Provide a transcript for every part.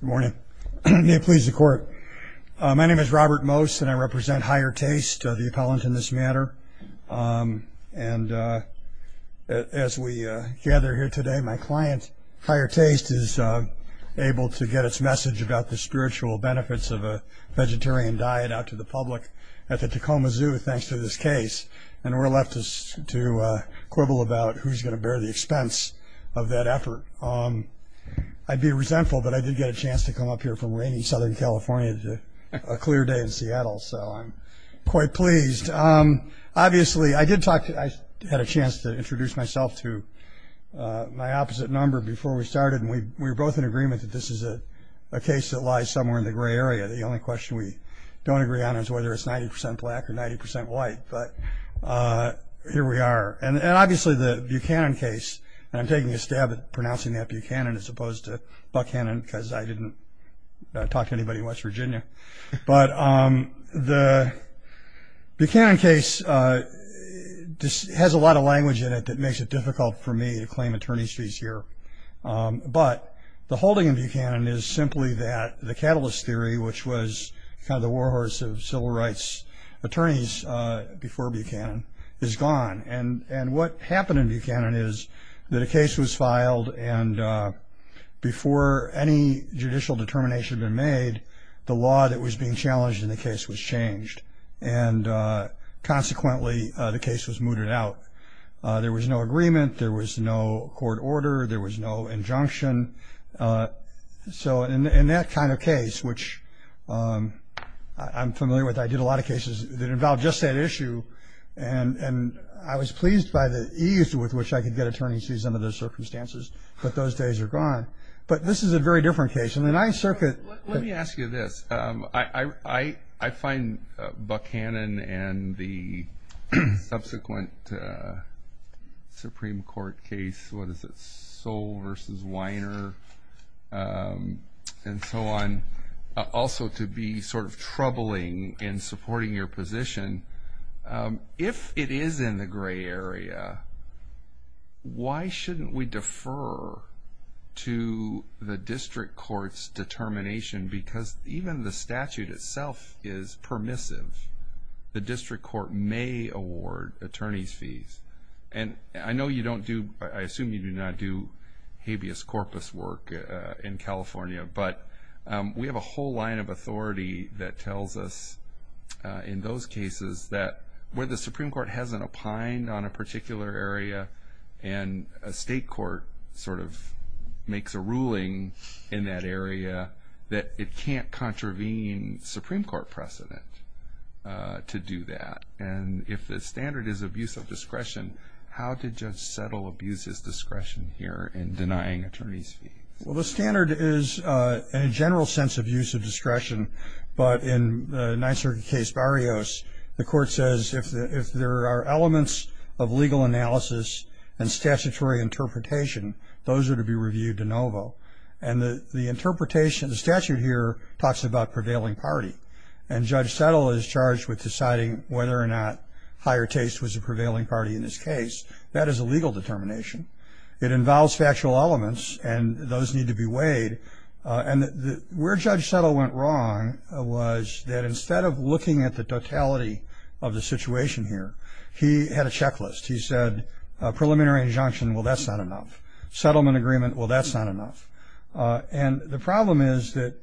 Good morning. May it please the Court. My name is Robert Mose and I represent Higher Taste, the appellant in this matter. And as we gather here today, my client, Higher Taste, is able to get its message about the spiritual benefits of a vegetarian diet out to the public at the Tacoma Zoo thanks to this case. And we're left to quibble about who's going to bear the expense of that effort. I'd be resentful, but I did get a chance to come up here from rainy Southern California to a clear day in Seattle, so I'm quite pleased. Obviously, I had a chance to introduce myself to my opposite number before we started, and we were both in agreement that this is a case that lies somewhere in the gray area. The only question we don't agree on is whether it's 90 percent black or 90 percent white, but here we are. And obviously the Buchanan case, and I'm taking a stab at pronouncing that Buchanan as opposed to Buckhannon because I didn't talk to anybody in West Virginia, but the Buchanan case has a lot of language in it that makes it difficult for me to claim attorney's fees here. But the holding in Buchanan is simply that the catalyst theory, which was kind of the warhorse of civil rights attorneys before Buchanan, is gone. And what happened in Buchanan is that a case was filed, and before any judicial determination had been made, the law that was being challenged in the case was changed, and consequently the case was mooted out. There was no agreement. There was no court order. There was no injunction. So in that kind of case, which I'm familiar with, I did a lot of cases that involved just that issue, and I was pleased by the ease with which I could get attorney's fees under those circumstances, but those days are gone. But this is a very different case. Let me ask you this. I find Buchanan and the subsequent Supreme Court case, what is it, Soll v. Weiner and so on, also to be sort of troubling in supporting your position. If it is in the gray area, why shouldn't we defer to the district court's determination? Because even the statute itself is permissive. The district court may award attorney's fees. And I know you don't do, I assume you do not do habeas corpus work in California, but we have a whole line of authority that tells us, in those cases, that where the Supreme Court hasn't opined on a particular area and a state court sort of makes a ruling in that area, that it can't contravene Supreme Court precedent to do that. And if the standard is abuse of discretion, how did Judge Settle abuse his discretion here in denying attorney's fees? Well, the standard is a general sense of use of discretion. But in the Ninth Circuit case Barrios, the court says if there are elements of legal analysis and statutory interpretation, those are to be reviewed de novo. And the interpretation, the statute here talks about prevailing party. And Judge Settle is charged with deciding whether or not higher taste was a prevailing party in this case. That is a legal determination. It involves factual elements, and those need to be weighed. And where Judge Settle went wrong was that instead of looking at the totality of the situation here, he had a checklist. He said preliminary injunction, well, that's not enough. Settlement agreement, well, that's not enough. And the problem is that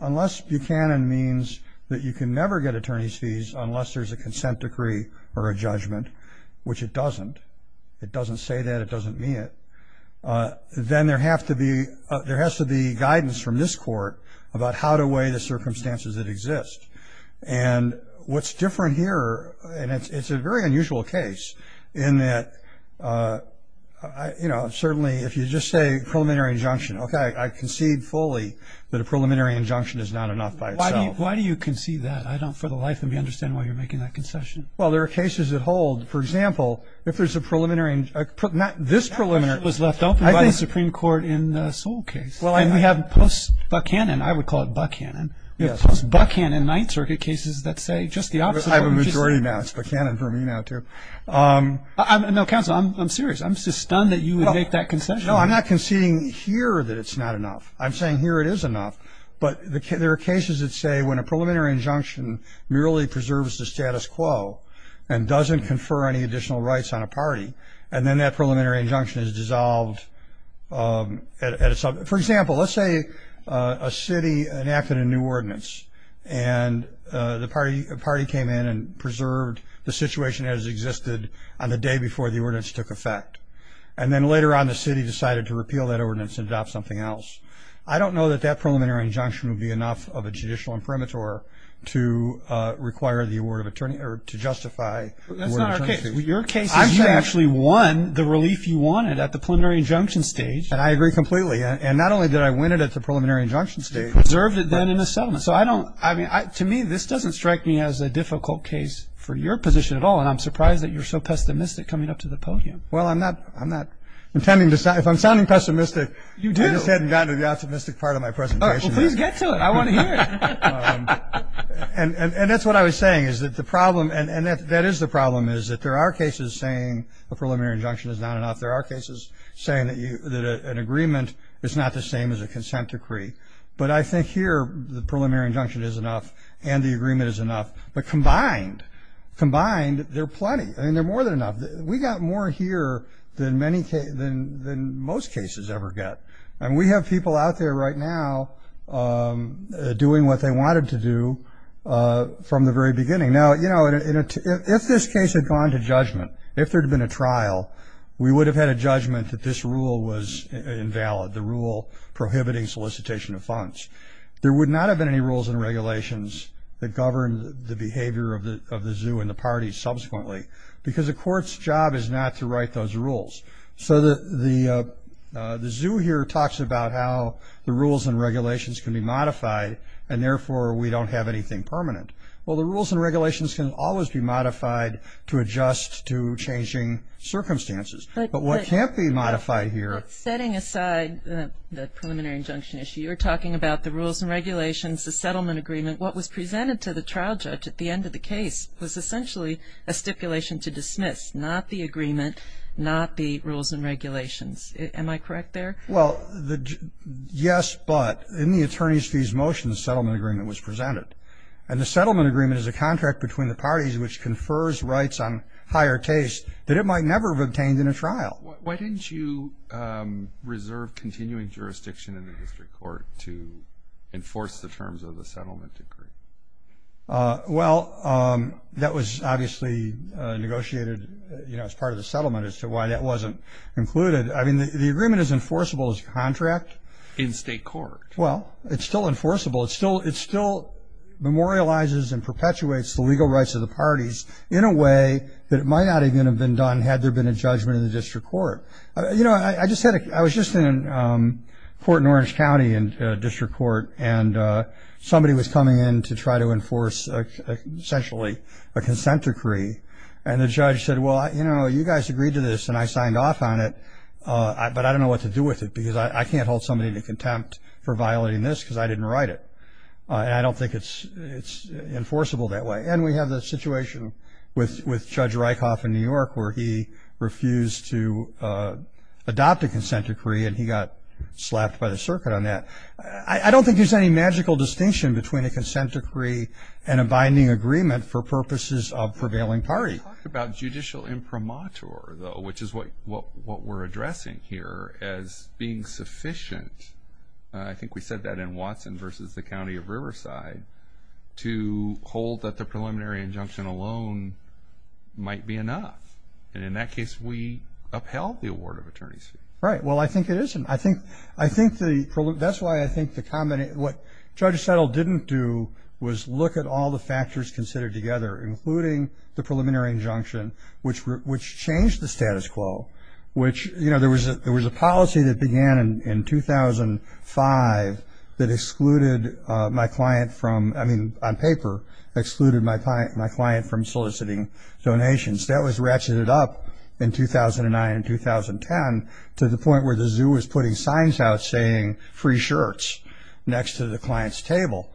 unless Buchanan means that you can never get attorney's fees unless there's a consent decree or a judgment, which it doesn't. It doesn't say that. It doesn't mean it. Then there has to be guidance from this court about how to weigh the circumstances that exist. And what's different here, and it's a very unusual case, in that, you know, certainly if you just say preliminary injunction, okay, I concede fully that a preliminary injunction is not enough by itself. Why do you concede that? I don't for the life of me understand why you're making that concession. Well, there are cases that hold. For example, if there's a preliminary, not this preliminary. That was left open by the Supreme Court in the Sewell case. And we have post-Buchanan, I would call it Buchanan. We have post-Buchanan Ninth Circuit cases that say just the opposite. I have a majority now. It's Buchanan for me now, too. No, counsel, I'm serious. I'm just stunned that you would make that concession. No, I'm not conceding here that it's not enough. I'm saying here it is enough. But there are cases that say when a preliminary injunction merely preserves the status quo and doesn't confer any additional rights on a party, and then that preliminary injunction is dissolved. For example, let's say a city enacted a new ordinance and the party came in and preserved the situation as it existed on the day before the ordinance took effect. And then later on the city decided to repeal that ordinance and adopt something else. I don't know that that preliminary injunction would be enough of a judicial imprimatur to require the award of attorney or to justify the award of attorney. That's not our case. Your case is you actually won the relief you wanted at the preliminary injunction stage. And I agree completely. And not only did I win it at the preliminary injunction stage. You preserved it then in a settlement. So I don't – I mean, to me, this doesn't strike me as a difficult case for your position at all, and I'm surprised that you're so pessimistic coming up to the podium. Well, I'm not – I'm not intending to – if I'm sounding pessimistic. You do. I just hadn't gotten to the optimistic part of my presentation. Please get to it. I want to hear it. And that's what I was saying, is that the problem – and that is the problem is that there are cases saying a preliminary injunction is not enough. There are cases saying that an agreement is not the same as a consent decree. But I think here the preliminary injunction is enough and the agreement is enough. But combined, combined, they're plenty. I mean, they're more than enough. We got more here than many – than most cases ever get. And we have people out there right now doing what they wanted to do from the very beginning. Now, you know, if this case had gone to judgment, if there had been a trial, we would have had a judgment that this rule was invalid, the rule prohibiting solicitation of funds. There would not have been any rules and regulations that govern the behavior of the zoo and the parties subsequently because the court's job is not to write those rules. So the zoo here talks about how the rules and regulations can be modified and, therefore, we don't have anything permanent. Well, the rules and regulations can always be modified to adjust to changing circumstances. But what can't be modified here – But setting aside the preliminary injunction issue, you're talking about the rules and regulations, the settlement agreement. What was presented to the trial judge at the end of the case was essentially a stipulation to dismiss, not the agreement, not the rules and regulations. Am I correct there? Well, yes, but in the attorney's fees motion, the settlement agreement was presented. And the settlement agreement is a contract between the parties which confers rights on higher case that it might never have obtained in a trial. Why didn't you reserve continuing jurisdiction in the history court to enforce the terms of the settlement decree? Well, that was obviously negotiated as part of the settlement as to why that wasn't included. I mean, the agreement is enforceable as a contract. In state court. Well, it's still enforceable. It still memorializes and perpetuates the legal rights of the parties in a way that it might not even have been done had there been a judgment in the district court. You know, I was just in a court in Orange County, a district court, and somebody was coming in to try to enforce essentially a consent decree. And the judge said, well, you know, you guys agreed to this, and I signed off on it, but I don't know what to do with it because I can't hold somebody to contempt for violating this because I didn't write it. And I don't think it's enforceable that way. And we have the situation with Judge Rykoff in New York where he refused to adopt a consent decree and he got slapped by the circuit on that. I don't think there's any magical distinction between a consent decree and a binding agreement for purposes of prevailing party. Let's talk about judicial imprimatur, though, which is what we're addressing here as being sufficient. I think we said that in Watson versus the County of Riverside, to hold that the preliminary injunction alone might be enough. And in that case, we upheld the award of attorney's fee. Right. Well, I think it isn't. That's why I think what Judge Settle didn't do was look at all the factors considered together, including the preliminary injunction, which changed the status quo, which, you know, there was a policy that began in 2005 that excluded my client from, I mean, on paper, excluded my client from soliciting donations. That was ratcheted up in 2009 and 2010 to the point where the zoo was putting signs out saying, free shirts, next to the client's table,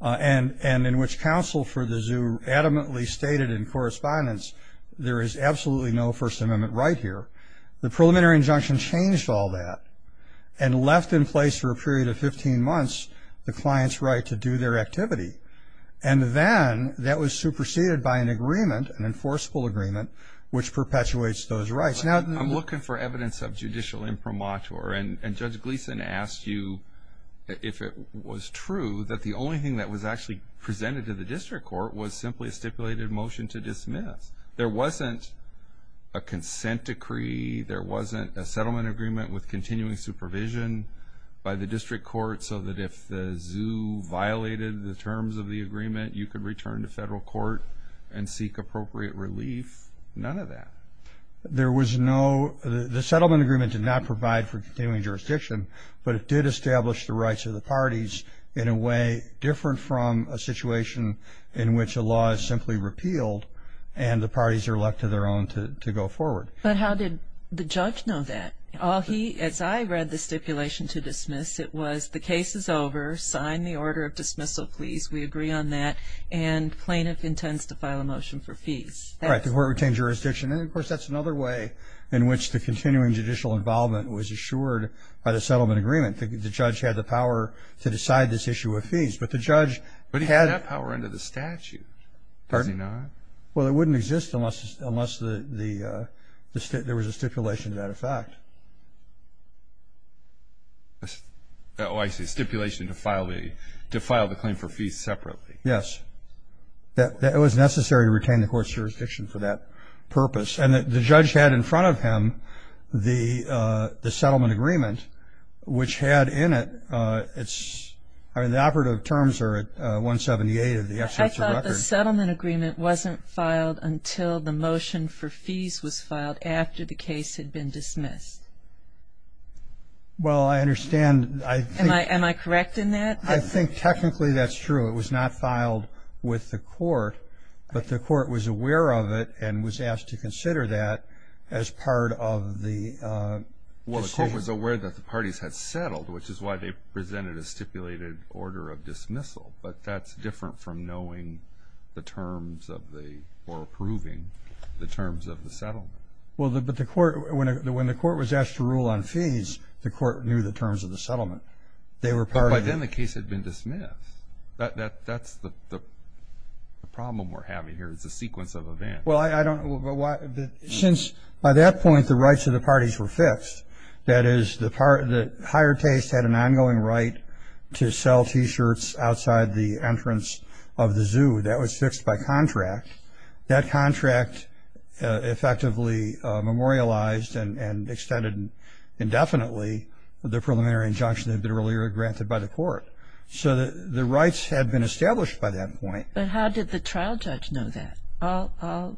and in which counsel for the zoo adamantly stated in correspondence, there is absolutely no First Amendment right here. The preliminary injunction changed all that and left in place for a period of 15 months the client's right to do their activity. And then that was superseded by an agreement, an enforceable agreement, which perpetuates those rights. I'm looking for evidence of judicial imprimatur, and Judge Gleeson asked you if it was true that the only thing that was actually presented to the district court was simply a stipulated motion to dismiss. There wasn't a consent decree. There wasn't a settlement agreement with continuing supervision by the district court so that if the zoo violated the terms of the agreement, you could return to federal court and seek appropriate relief. None of that. There was no – the settlement agreement did not provide for continuing jurisdiction, but it did establish the rights of the parties in a way different from a situation in which a law is simply repealed and the parties are left to their own to go forward. But how did the judge know that? As I read the stipulation to dismiss, it was the case is over. Sign the order of dismissal, please. We agree on that. And plaintiff intends to file a motion for fees. All right. The court retained jurisdiction. And, of course, that's another way in which the continuing judicial involvement was assured by the settlement agreement. The judge had the power to decide this issue with fees, but the judge had – But he had that power under the statute, does he not? Well, it wouldn't exist unless there was a stipulation to that effect. Oh, I see. Stipulation to file the claim for fees separately. Yes. It was necessary to retain the court's jurisdiction for that purpose. And the judge had in front of him the settlement agreement, which had in it its – I mean, the operative terms are at 178 of the executive record. But the settlement agreement wasn't filed until the motion for fees was filed after the case had been dismissed. Well, I understand. Am I correct in that? I think technically that's true. It was not filed with the court, but the court was aware of it and was asked to consider that as part of the decision. Well, the court was aware that the parties had settled, which is why they presented a stipulated order of dismissal. But that's different from knowing the terms of the – or approving the terms of the settlement. Well, but the court – when the court was asked to rule on fees, the court knew the terms of the settlement. They were part of the – But by then the case had been dismissed. That's the problem we're having here. It's a sequence of events. Well, I don't – since by that point the rights of the parties were fixed, that is the higher taste had an ongoing right to sell T-shirts outside the entrance of the zoo. That was fixed by contract. That contract effectively memorialized and extended indefinitely the preliminary injunction that had been earlier granted by the court. So the rights had been established by that point. But how did the trial judge know that? All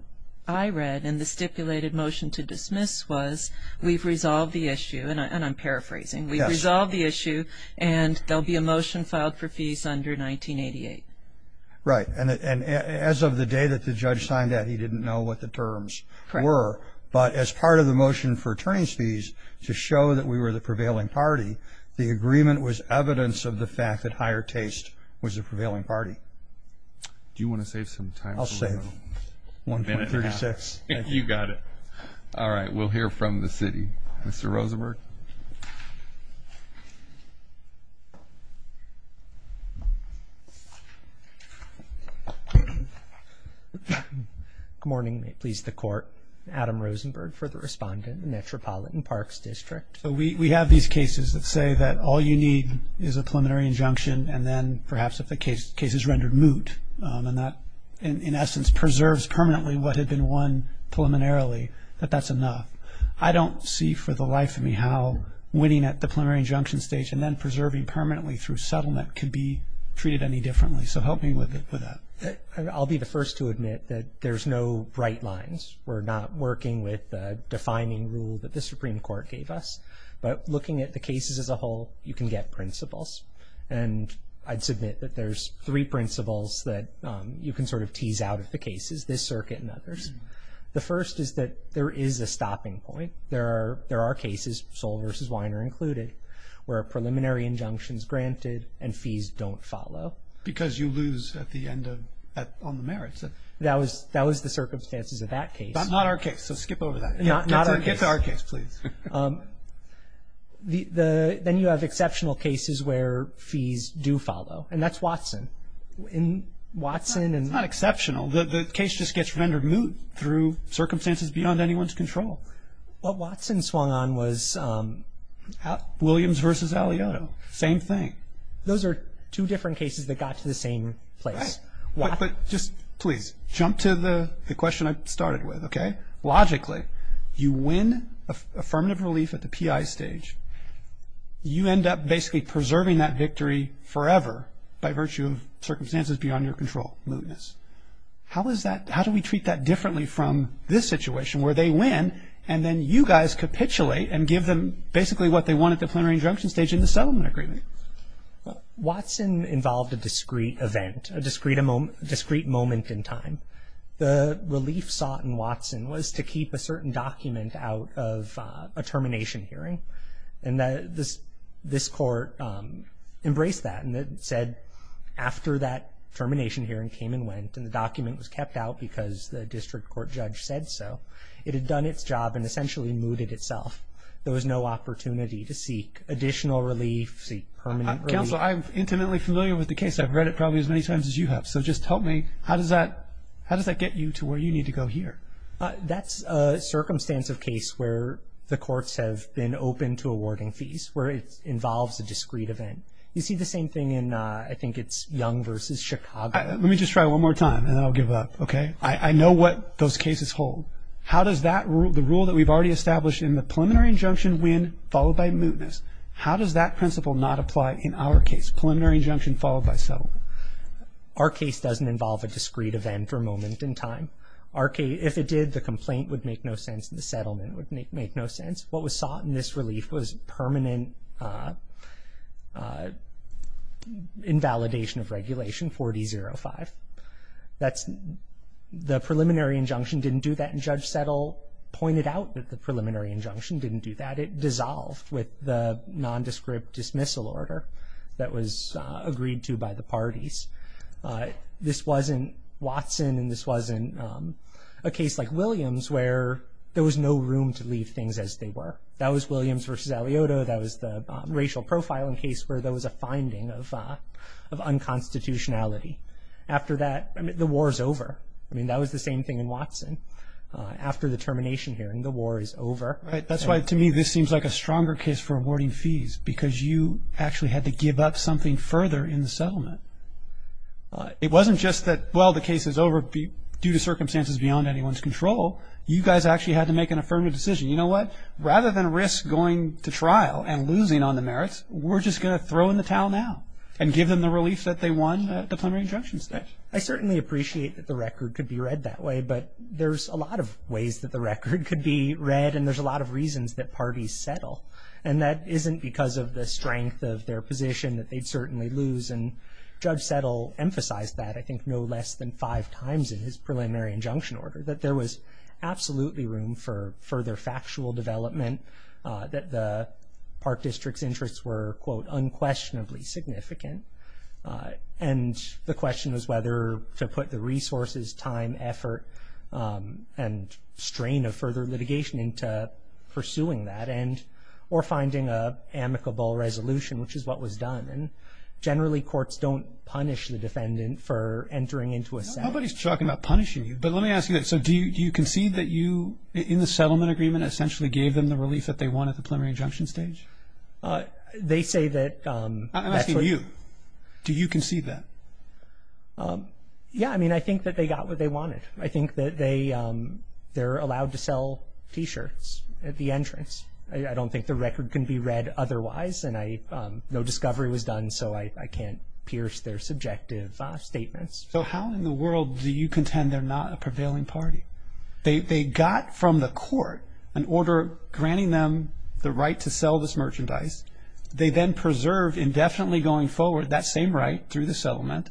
I read in the stipulated motion to dismiss was we've resolved the issue, and I'm paraphrasing. We've resolved the issue, and there will be a motion filed for fees under 1988. Right. And as of the day that the judge signed that, he didn't know what the terms were. Correct. But as part of the motion for attorneys' fees to show that we were the prevailing party, the agreement was evidence of the fact that higher taste was the prevailing party. Do you want to save some time? I'll save 1.36. You got it. All right. We'll hear from the city. Mr. Rosenberg. Good morning, please, the court. Adam Rosenberg, further respondent, Metropolitan Parks District. So we have these cases that say that all you need is a preliminary injunction and then perhaps if the case is rendered moot, and that in essence preserves permanently what had been won preliminarily, that that's enough. I don't see for the life of me how winning at the preliminary injunction stage and then preserving permanently through settlement can be treated any differently. So help me with that. I'll be the first to admit that there's no bright lines. We're not working with the defining rule that the Supreme Court gave us. But looking at the cases as a whole, you can get principles. And I'd submit that there's three principles that you can sort of tease out of the cases, this circuit and others. The first is that there is a stopping point. There are cases, Sol versus Weiner included, where a preliminary injunction is granted and fees don't follow. Because you lose on the merits. That was the circumstances of that case. Not our case, so skip over that. Not our case. Get to our case, please. Then you have exceptional cases where fees do follow, and that's Watson. It's not exceptional. The case just gets rendered moot through circumstances beyond anyone's control. What Watson swung on was Williams versus Alioto. Same thing. Those are two different cases that got to the same place. Right. But just please jump to the question I started with, okay? You win affirmative relief at the PI stage. You end up basically preserving that victory forever by virtue of circumstances beyond your control, mootness. How do we treat that differently from this situation where they win and then you guys capitulate and give them basically what they want at the preliminary injunction stage in the settlement agreement? Watson involved a discrete event, a discrete moment in time. The relief sought in Watson was to keep a certain document out of a termination hearing, and this court embraced that and said after that termination hearing came and went and the document was kept out because the district court judge said so, it had done its job and essentially mooted itself. There was no opportunity to seek additional relief, seek permanent relief. Counsel, I'm intimately familiar with the case. I've read it probably as many times as you have, so just tell me, how does that get you to where you need to go here? That's a circumstance of case where the courts have been open to awarding fees, where it involves a discrete event. You see the same thing in I think it's Young v. Chicago. Let me just try one more time and then I'll give up, okay? I know what those cases hold. How does the rule that we've already established in the preliminary injunction win followed by mootness, how does that principle not apply in our case, preliminary injunction followed by settlement? Our case doesn't involve a discrete event for a moment in time. If it did, the complaint would make no sense, the settlement would make no sense. What was sought in this relief was permanent invalidation of regulation, 4D05. The preliminary injunction didn't do that and Judge Settle pointed out that the preliminary injunction didn't do that. It dissolved with the nondescript dismissal order that was agreed to by the parties. This wasn't Watson and this wasn't a case like Williams where there was no room to leave things as they were. That was Williams v. Aliotto, that was the racial profiling case where there was a finding of unconstitutionality. After that, the war is over. I mean, that was the same thing in Watson. After the termination hearing, the war is over. That's why, to me, this seems like a stronger case for awarding fees because you actually had to give up something further in the settlement. It wasn't just that, well, the case is over due to circumstances beyond anyone's control. You guys actually had to make an affirmative decision. You know what? Rather than risk going to trial and losing on the merits, we're just going to throw in the towel now and give them the relief that they won at the preliminary injunction stage. I certainly appreciate that the record could be read that way, but there's a lot of ways that the record could be read and there's a lot of reasons that parties settle. That isn't because of the strength of their position that they'd certainly lose. Judge Settle emphasized that I think no less than five times in his preliminary injunction order, that there was absolutely room for further factual development, that the Park District's interests were, quote, unquestionably significant. And the question is whether to put the resources, time, effort, and strain of further litigation into pursuing that or finding an amicable resolution, which is what was done. And generally courts don't punish the defendant for entering into a settlement. Nobody's talking about punishing you, but let me ask you this. So do you concede that you, in the settlement agreement, essentially gave them the relief that they won at the preliminary injunction stage? They say that that's what- I'm asking you. Do you concede that? Yeah. I mean, I think that they got what they wanted. I think that they're allowed to sell T-shirts at the entrance. I don't think the record can be read otherwise, and no discovery was done, so I can't pierce their subjective statements. So how in the world do you contend they're not a prevailing party? They got from the court an order granting them the right to sell this merchandise. They then preserved indefinitely going forward that same right through the settlement.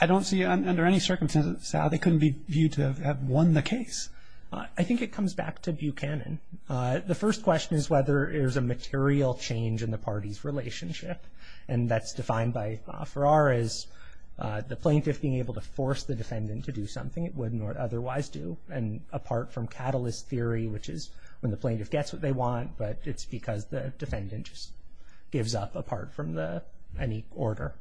I don't see under any circumstances how they couldn't be viewed to have won the case. I think it comes back to Buchanan. The first question is whether there's a material change in the party's relationship, and that's defined by Farrar as the plaintiff being able to force the defendant to do something it wouldn't otherwise do, and apart from catalyst theory, which is when the plaintiff gets what they want, but it's because the defendant just gives up apart from any order.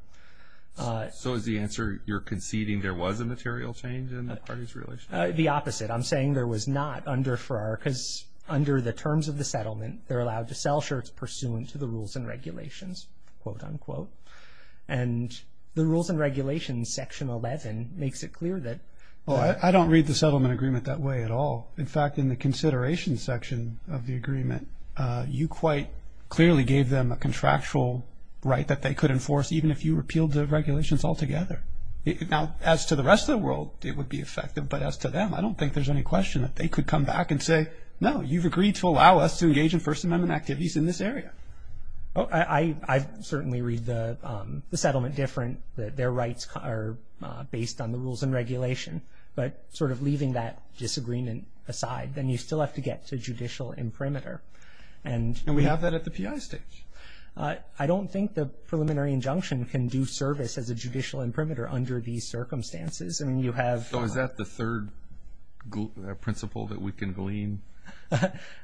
So is the answer you're conceding there was a material change in the party's relationship? The opposite. I'm saying there was not under Farrar, because under the terms of the settlement, they're allowed to sell shirts pursuant to the rules and regulations, quote, unquote. And the rules and regulations, section 11, makes it clear that. Well, I don't read the settlement agreement that way at all. In fact, in the consideration section of the agreement, you quite clearly gave them a contractual right that they could enforce, even if you repealed the regulations altogether. Now, as to the rest of the world, it would be effective, but as to them, I don't think there's any question that they could come back and say, no, you've agreed to allow us to engage in First Amendment activities in this area. I certainly read the settlement different, that their rights are based on the rules and regulation. But sort of leaving that disagreement aside, then you still have to get to judicial imprimatur. And we have that at the PI stage. I don't think the preliminary injunction can do service as a judicial imprimatur under these circumstances. So is that the third principle that we can glean?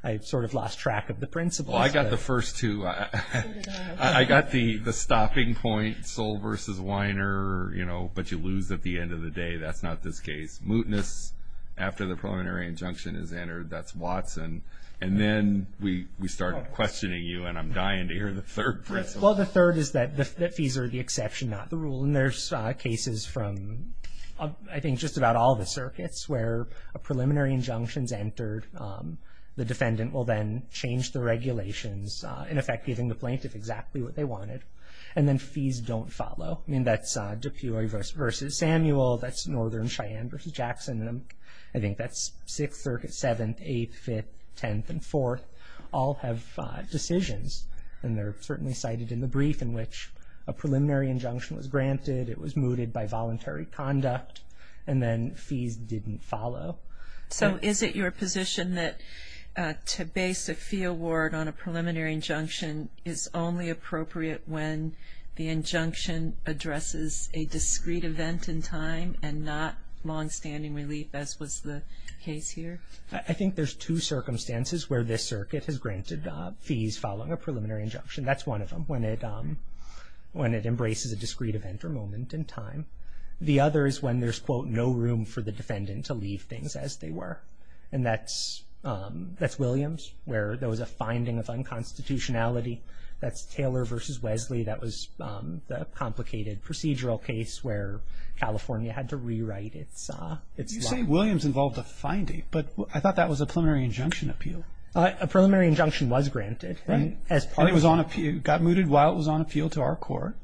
I sort of lost track of the principles. Well, I got the first two. I got the stopping point, Soll v. Weiner, you know, but you lose at the end of the day. That's not this case. Mootness after the preliminary injunction is entered, that's Watson. And then we started questioning you, and I'm dying to hear the third principle. Well, the third is that fees are the exception, not the rule. And there's cases from, I think, just about all the circuits where a preliminary injunction is entered. The defendant will then change the regulations, in effect, giving the plaintiff exactly what they wanted. And then fees don't follow. I mean, that's Dupuy v. Samuel. That's Northern Cheyenne v. Jackson. And I think that's Sixth Circuit, Seventh, Eighth, Fifth, Tenth, and Fourth all have decisions. And they're certainly cited in the brief in which a preliminary injunction was granted. It was mooted by voluntary conduct. And then fees didn't follow. So is it your position that to base a fee award on a preliminary injunction is only appropriate when the injunction addresses a discrete event in time and not longstanding relief, as was the case here? I think there's two circumstances where this circuit has granted fees following a preliminary injunction. That's one of them, when it embraces a discrete event or moment in time. The other is when there's, quote, no room for the defendant to leave things as they were. And that's Williams, where there was a finding of unconstitutionality. That's Taylor v. Wesley. That was the complicated procedural case where California had to rewrite its law. You say Williams involved a finding, but I thought that was a preliminary injunction appeal. A preliminary injunction was granted. And it got mooted while it was on appeal to our court.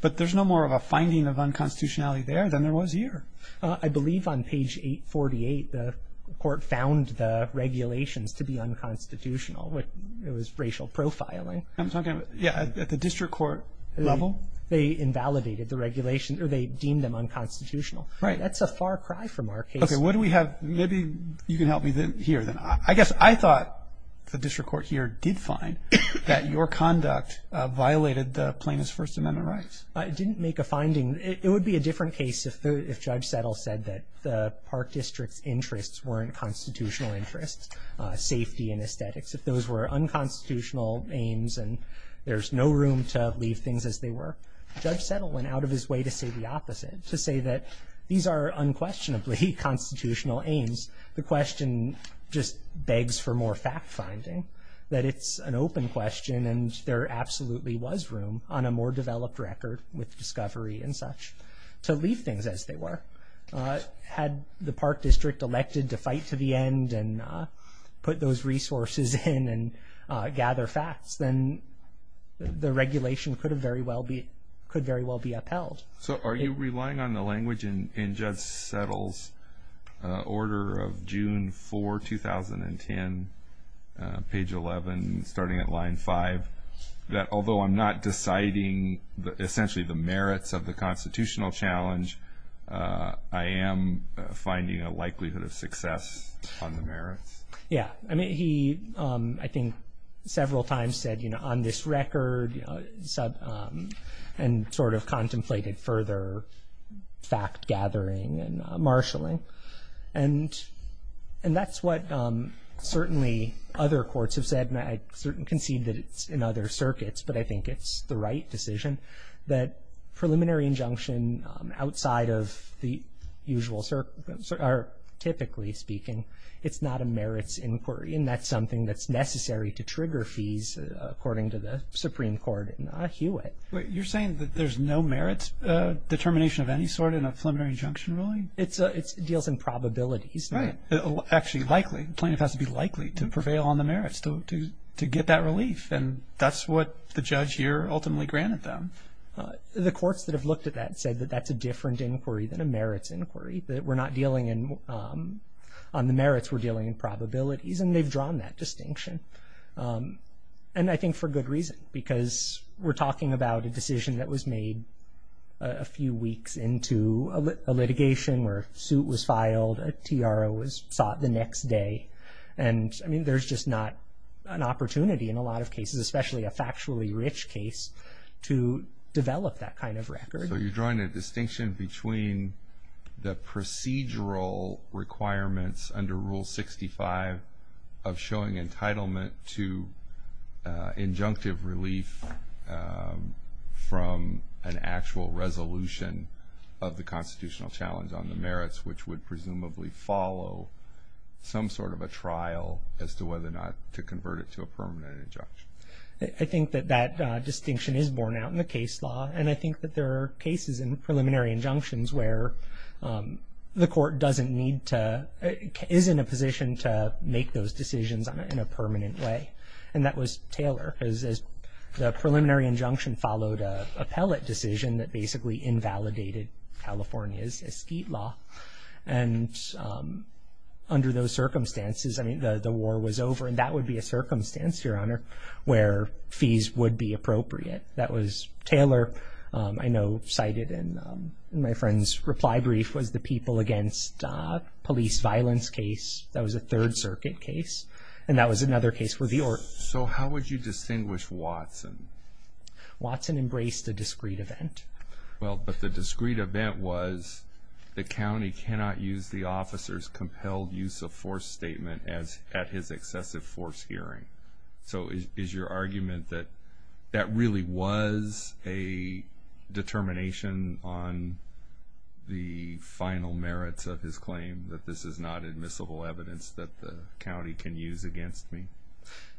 But there's no more of a finding of unconstitutionality there than there was here. I believe on page 848 the court found the regulations to be unconstitutional. It was racial profiling. I'm talking about, yeah, at the district court level? They invalidated the regulations, or they deemed them unconstitutional. Right. That's a far cry from our case. Okay, what do we have? Maybe you can help me here. I guess I thought the district court here did find that your conduct violated the plaintiff's First Amendment rights. It didn't make a finding. It would be a different case if Judge Settle said that the park district's interests weren't constitutional interests, safety and aesthetics. If those were unconstitutional aims and there's no room to leave things as they were, Judge Settle went out of his way to say the opposite, to say that these are unquestionably constitutional aims. The question just begs for more fact-finding, that it's an open question and there absolutely was room on a more developed record with discovery and such to leave things as they were. Had the park district elected to fight to the end and put those resources in and gather facts, then the regulation could very well be upheld. So are you relying on the language in Judge Settle's order of June 4, 2010, page 11, starting at line 5, that although I'm not deciding essentially the merits of the constitutional challenge, I am finding a likelihood of success on the merits? Yeah. I mean, he, I think, several times said, you know, on this record, and sort of contemplated further fact-gathering and marshaling. And that's what certainly other courts have said, and I certainly concede that it's in other circuits, but I think it's the right decision, that preliminary injunction outside of the usual, typically speaking, it's not a merits inquiry, and that's something that's necessary to trigger fees, according to the Supreme Court in Hewitt. You're saying that there's no merits determination of any sort in a preliminary injunction ruling? It deals in probabilities. Right. Actually, likely. The plaintiff has to be likely to prevail on the merits to get that relief, and that's what the judge here ultimately granted them. The courts that have looked at that said that that's a different inquiry than a merits inquiry, that we're not dealing on the merits, we're dealing in probabilities, and they've drawn that distinction. And I think for good reason, because we're talking about a decision that was made a few weeks into a litigation where a suit was filed, a TRO was sought the next day, and I mean there's just not an opportunity in a lot of cases, especially a factually rich case, to develop that kind of record. So you're drawing a distinction between the procedural requirements under Rule 65 of showing entitlement to injunctive relief from an actual resolution of the constitutional challenge on the merits, which would presumably follow some sort of a trial as to whether or not to convert it to a permanent injunction. I think that that distinction is borne out in the case law, and I think that there are cases in preliminary injunctions where the court doesn't need to, is in a position to make those decisions in a permanent way. And that was Taylor, because the preliminary injunction followed an appellate decision that basically invalidated California's estate law. And under those circumstances, I mean, the war was over, and that would be a circumstance, Your Honor, where fees would be appropriate. That was Taylor, I know cited in my friend's reply brief, was the people against police violence case. That was a Third Circuit case, and that was another case for the order. So how would you distinguish Watson? Watson embraced a discreet event. Well, but the discreet event was the county cannot use the officer's compelled use of force statement at his excessive force hearing. So is your argument that that really was a determination on the final merits of his claim, that this is not admissible evidence that the county can use against me?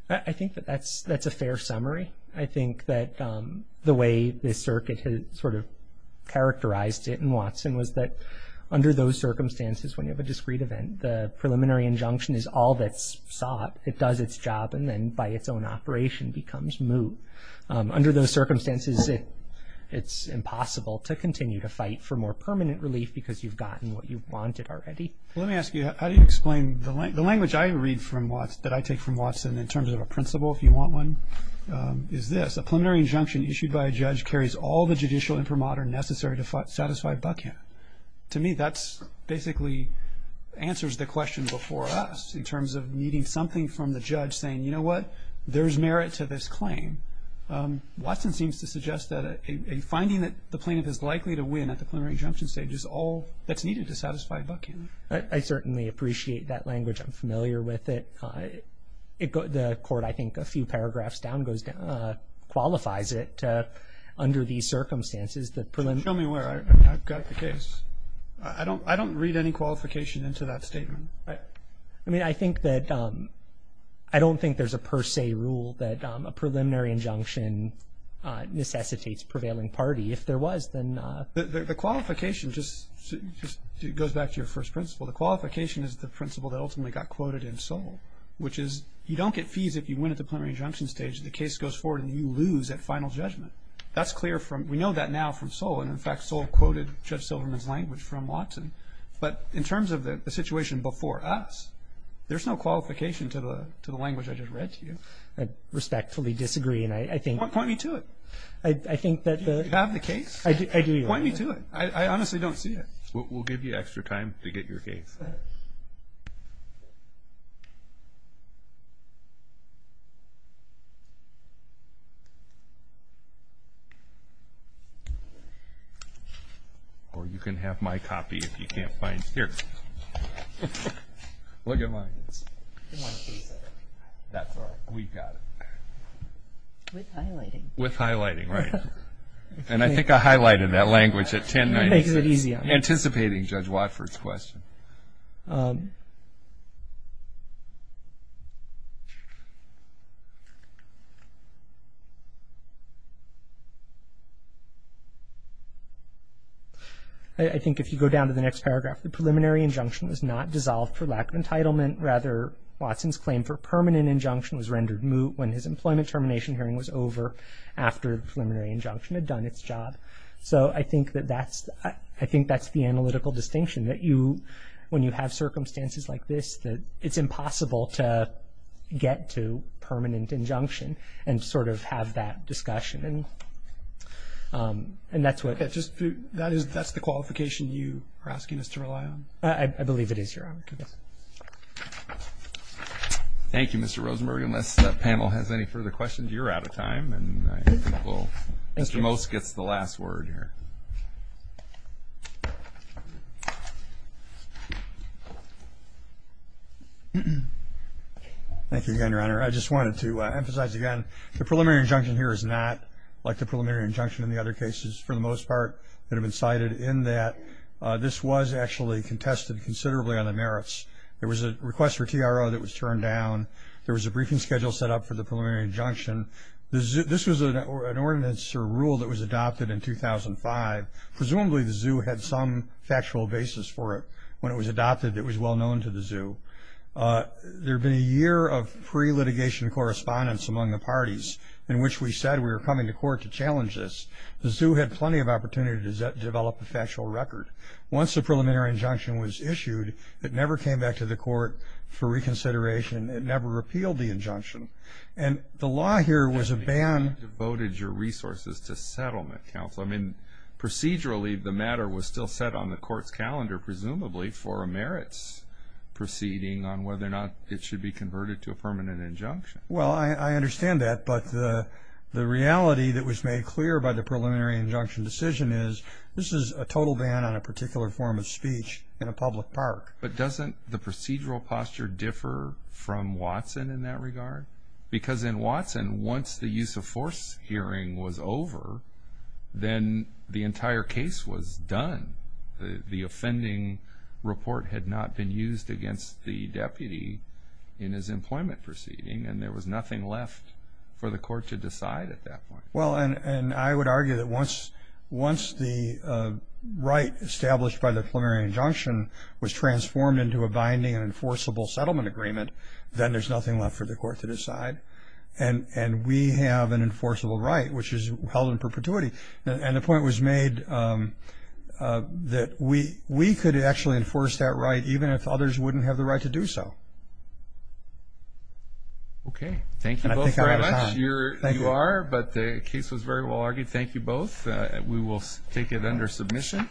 I think that that's a fair summary. I think that the way the circuit had sort of characterized it in Watson was that under those circumstances, when you have a discreet event, the preliminary injunction is all that's sought. It does its job, and then by its own operation becomes moot. Under those circumstances, it's impossible to continue to fight for more permanent relief because you've gotten what you've wanted already. Well, let me ask you, how do you explain the language I read from Watson, that I take from Watson in terms of a principle, if you want one, is this. A preliminary injunction issued by a judge carries all the judicial imprimatur necessary to satisfy Buckhead. To me, that basically answers the question before us in terms of needing something from the judge saying, you know what, there's merit to this claim. Watson seems to suggest that a finding that the plaintiff is likely to win at the preliminary injunction stage is all that's needed to satisfy Buckhead. I certainly appreciate that language. I'm familiar with it. The court, I think, a few paragraphs down qualifies it under these circumstances. Show me where I've got the case. I don't read any qualification into that statement. I mean, I think that I don't think there's a per se rule that a preliminary injunction necessitates prevailing party. If there was, then. The qualification just goes back to your first principle. The qualification is the principle that ultimately got quoted in Soule, which is you don't get fees if you win at the preliminary injunction stage. The case goes forward and you lose at final judgment. That's clear from, we know that now from Soule, and, in fact, Soule quoted Judge Silverman's language from Watson. But in terms of the situation before us, there's no qualification to the language I just read to you. I respectfully disagree, and I think. Point me to it. I think that the. Do you have the case? I do. Point me to it. I honestly don't see it. We'll give you extra time to get your case. Or you can have my copy if you can't find it. Here. Look at mine. That's all right. We've got it. With highlighting. With highlighting, right. And I think I highlighted that language at 1096. It makes it easier. Anticipating Judge Watford's question. I think if you go down to the next paragraph, the preliminary injunction was not dissolved for lack of entitlement. Rather, Watson's claim for permanent injunction was rendered moot when his employment termination hearing was over after the preliminary injunction had done its job. So I think that's the analytical distinction. When you have circumstances like this, it's impossible to get to permanent injunction and sort of have that discussion. And that's what. That's the qualification you are asking us to rely on. I believe it is your own. Thank you, Mr. Rosenberg. Unless that panel has any further questions, you're out of time. Mr. Most gets the last word here. Thank you again, Your Honor. I just wanted to emphasize again, the preliminary injunction here is not like the preliminary injunction in the other cases for the most part that have been cited in that this was actually contested considerably on the merits. There was a request for TRO that was turned down. There was a briefing schedule set up for the preliminary injunction. This was an ordinance or rule that was adopted in 2005. Presumably the zoo had some factual basis for it. When it was adopted, it was well known to the zoo. There had been a year of pre-litigation correspondence among the parties in which we said we were coming to court to challenge this. The zoo had plenty of opportunity to develop a factual record. Once the preliminary injunction was issued, it never came back to the court for reconsideration. It never repealed the injunction. And the law here was a ban. You devoted your resources to settlement counsel. I mean, procedurally, the matter was still set on the court's calendar presumably for a merits proceeding on whether or not it should be converted to a permanent injunction. Well, I understand that. But the reality that was made clear by the preliminary injunction decision is this is a total ban on a particular form of speech in a public park. But doesn't the procedural posture differ from Watson in that regard? Because in Watson, once the use of force hearing was over, then the entire case was done. The offending report had not been used against the deputy in his employment proceeding, and there was nothing left for the court to decide at that point. Well, and I would argue that once the right established by the preliminary injunction was transformed into a binding and enforceable settlement agreement, then there's nothing left for the court to decide. And we have an enforceable right, which is held in perpetuity. And the point was made that we could actually enforce that right, even if others wouldn't have the right to do so. Okay. Thank you both very much. You are, but the case was very well argued. Thank you both. We will take it under submission.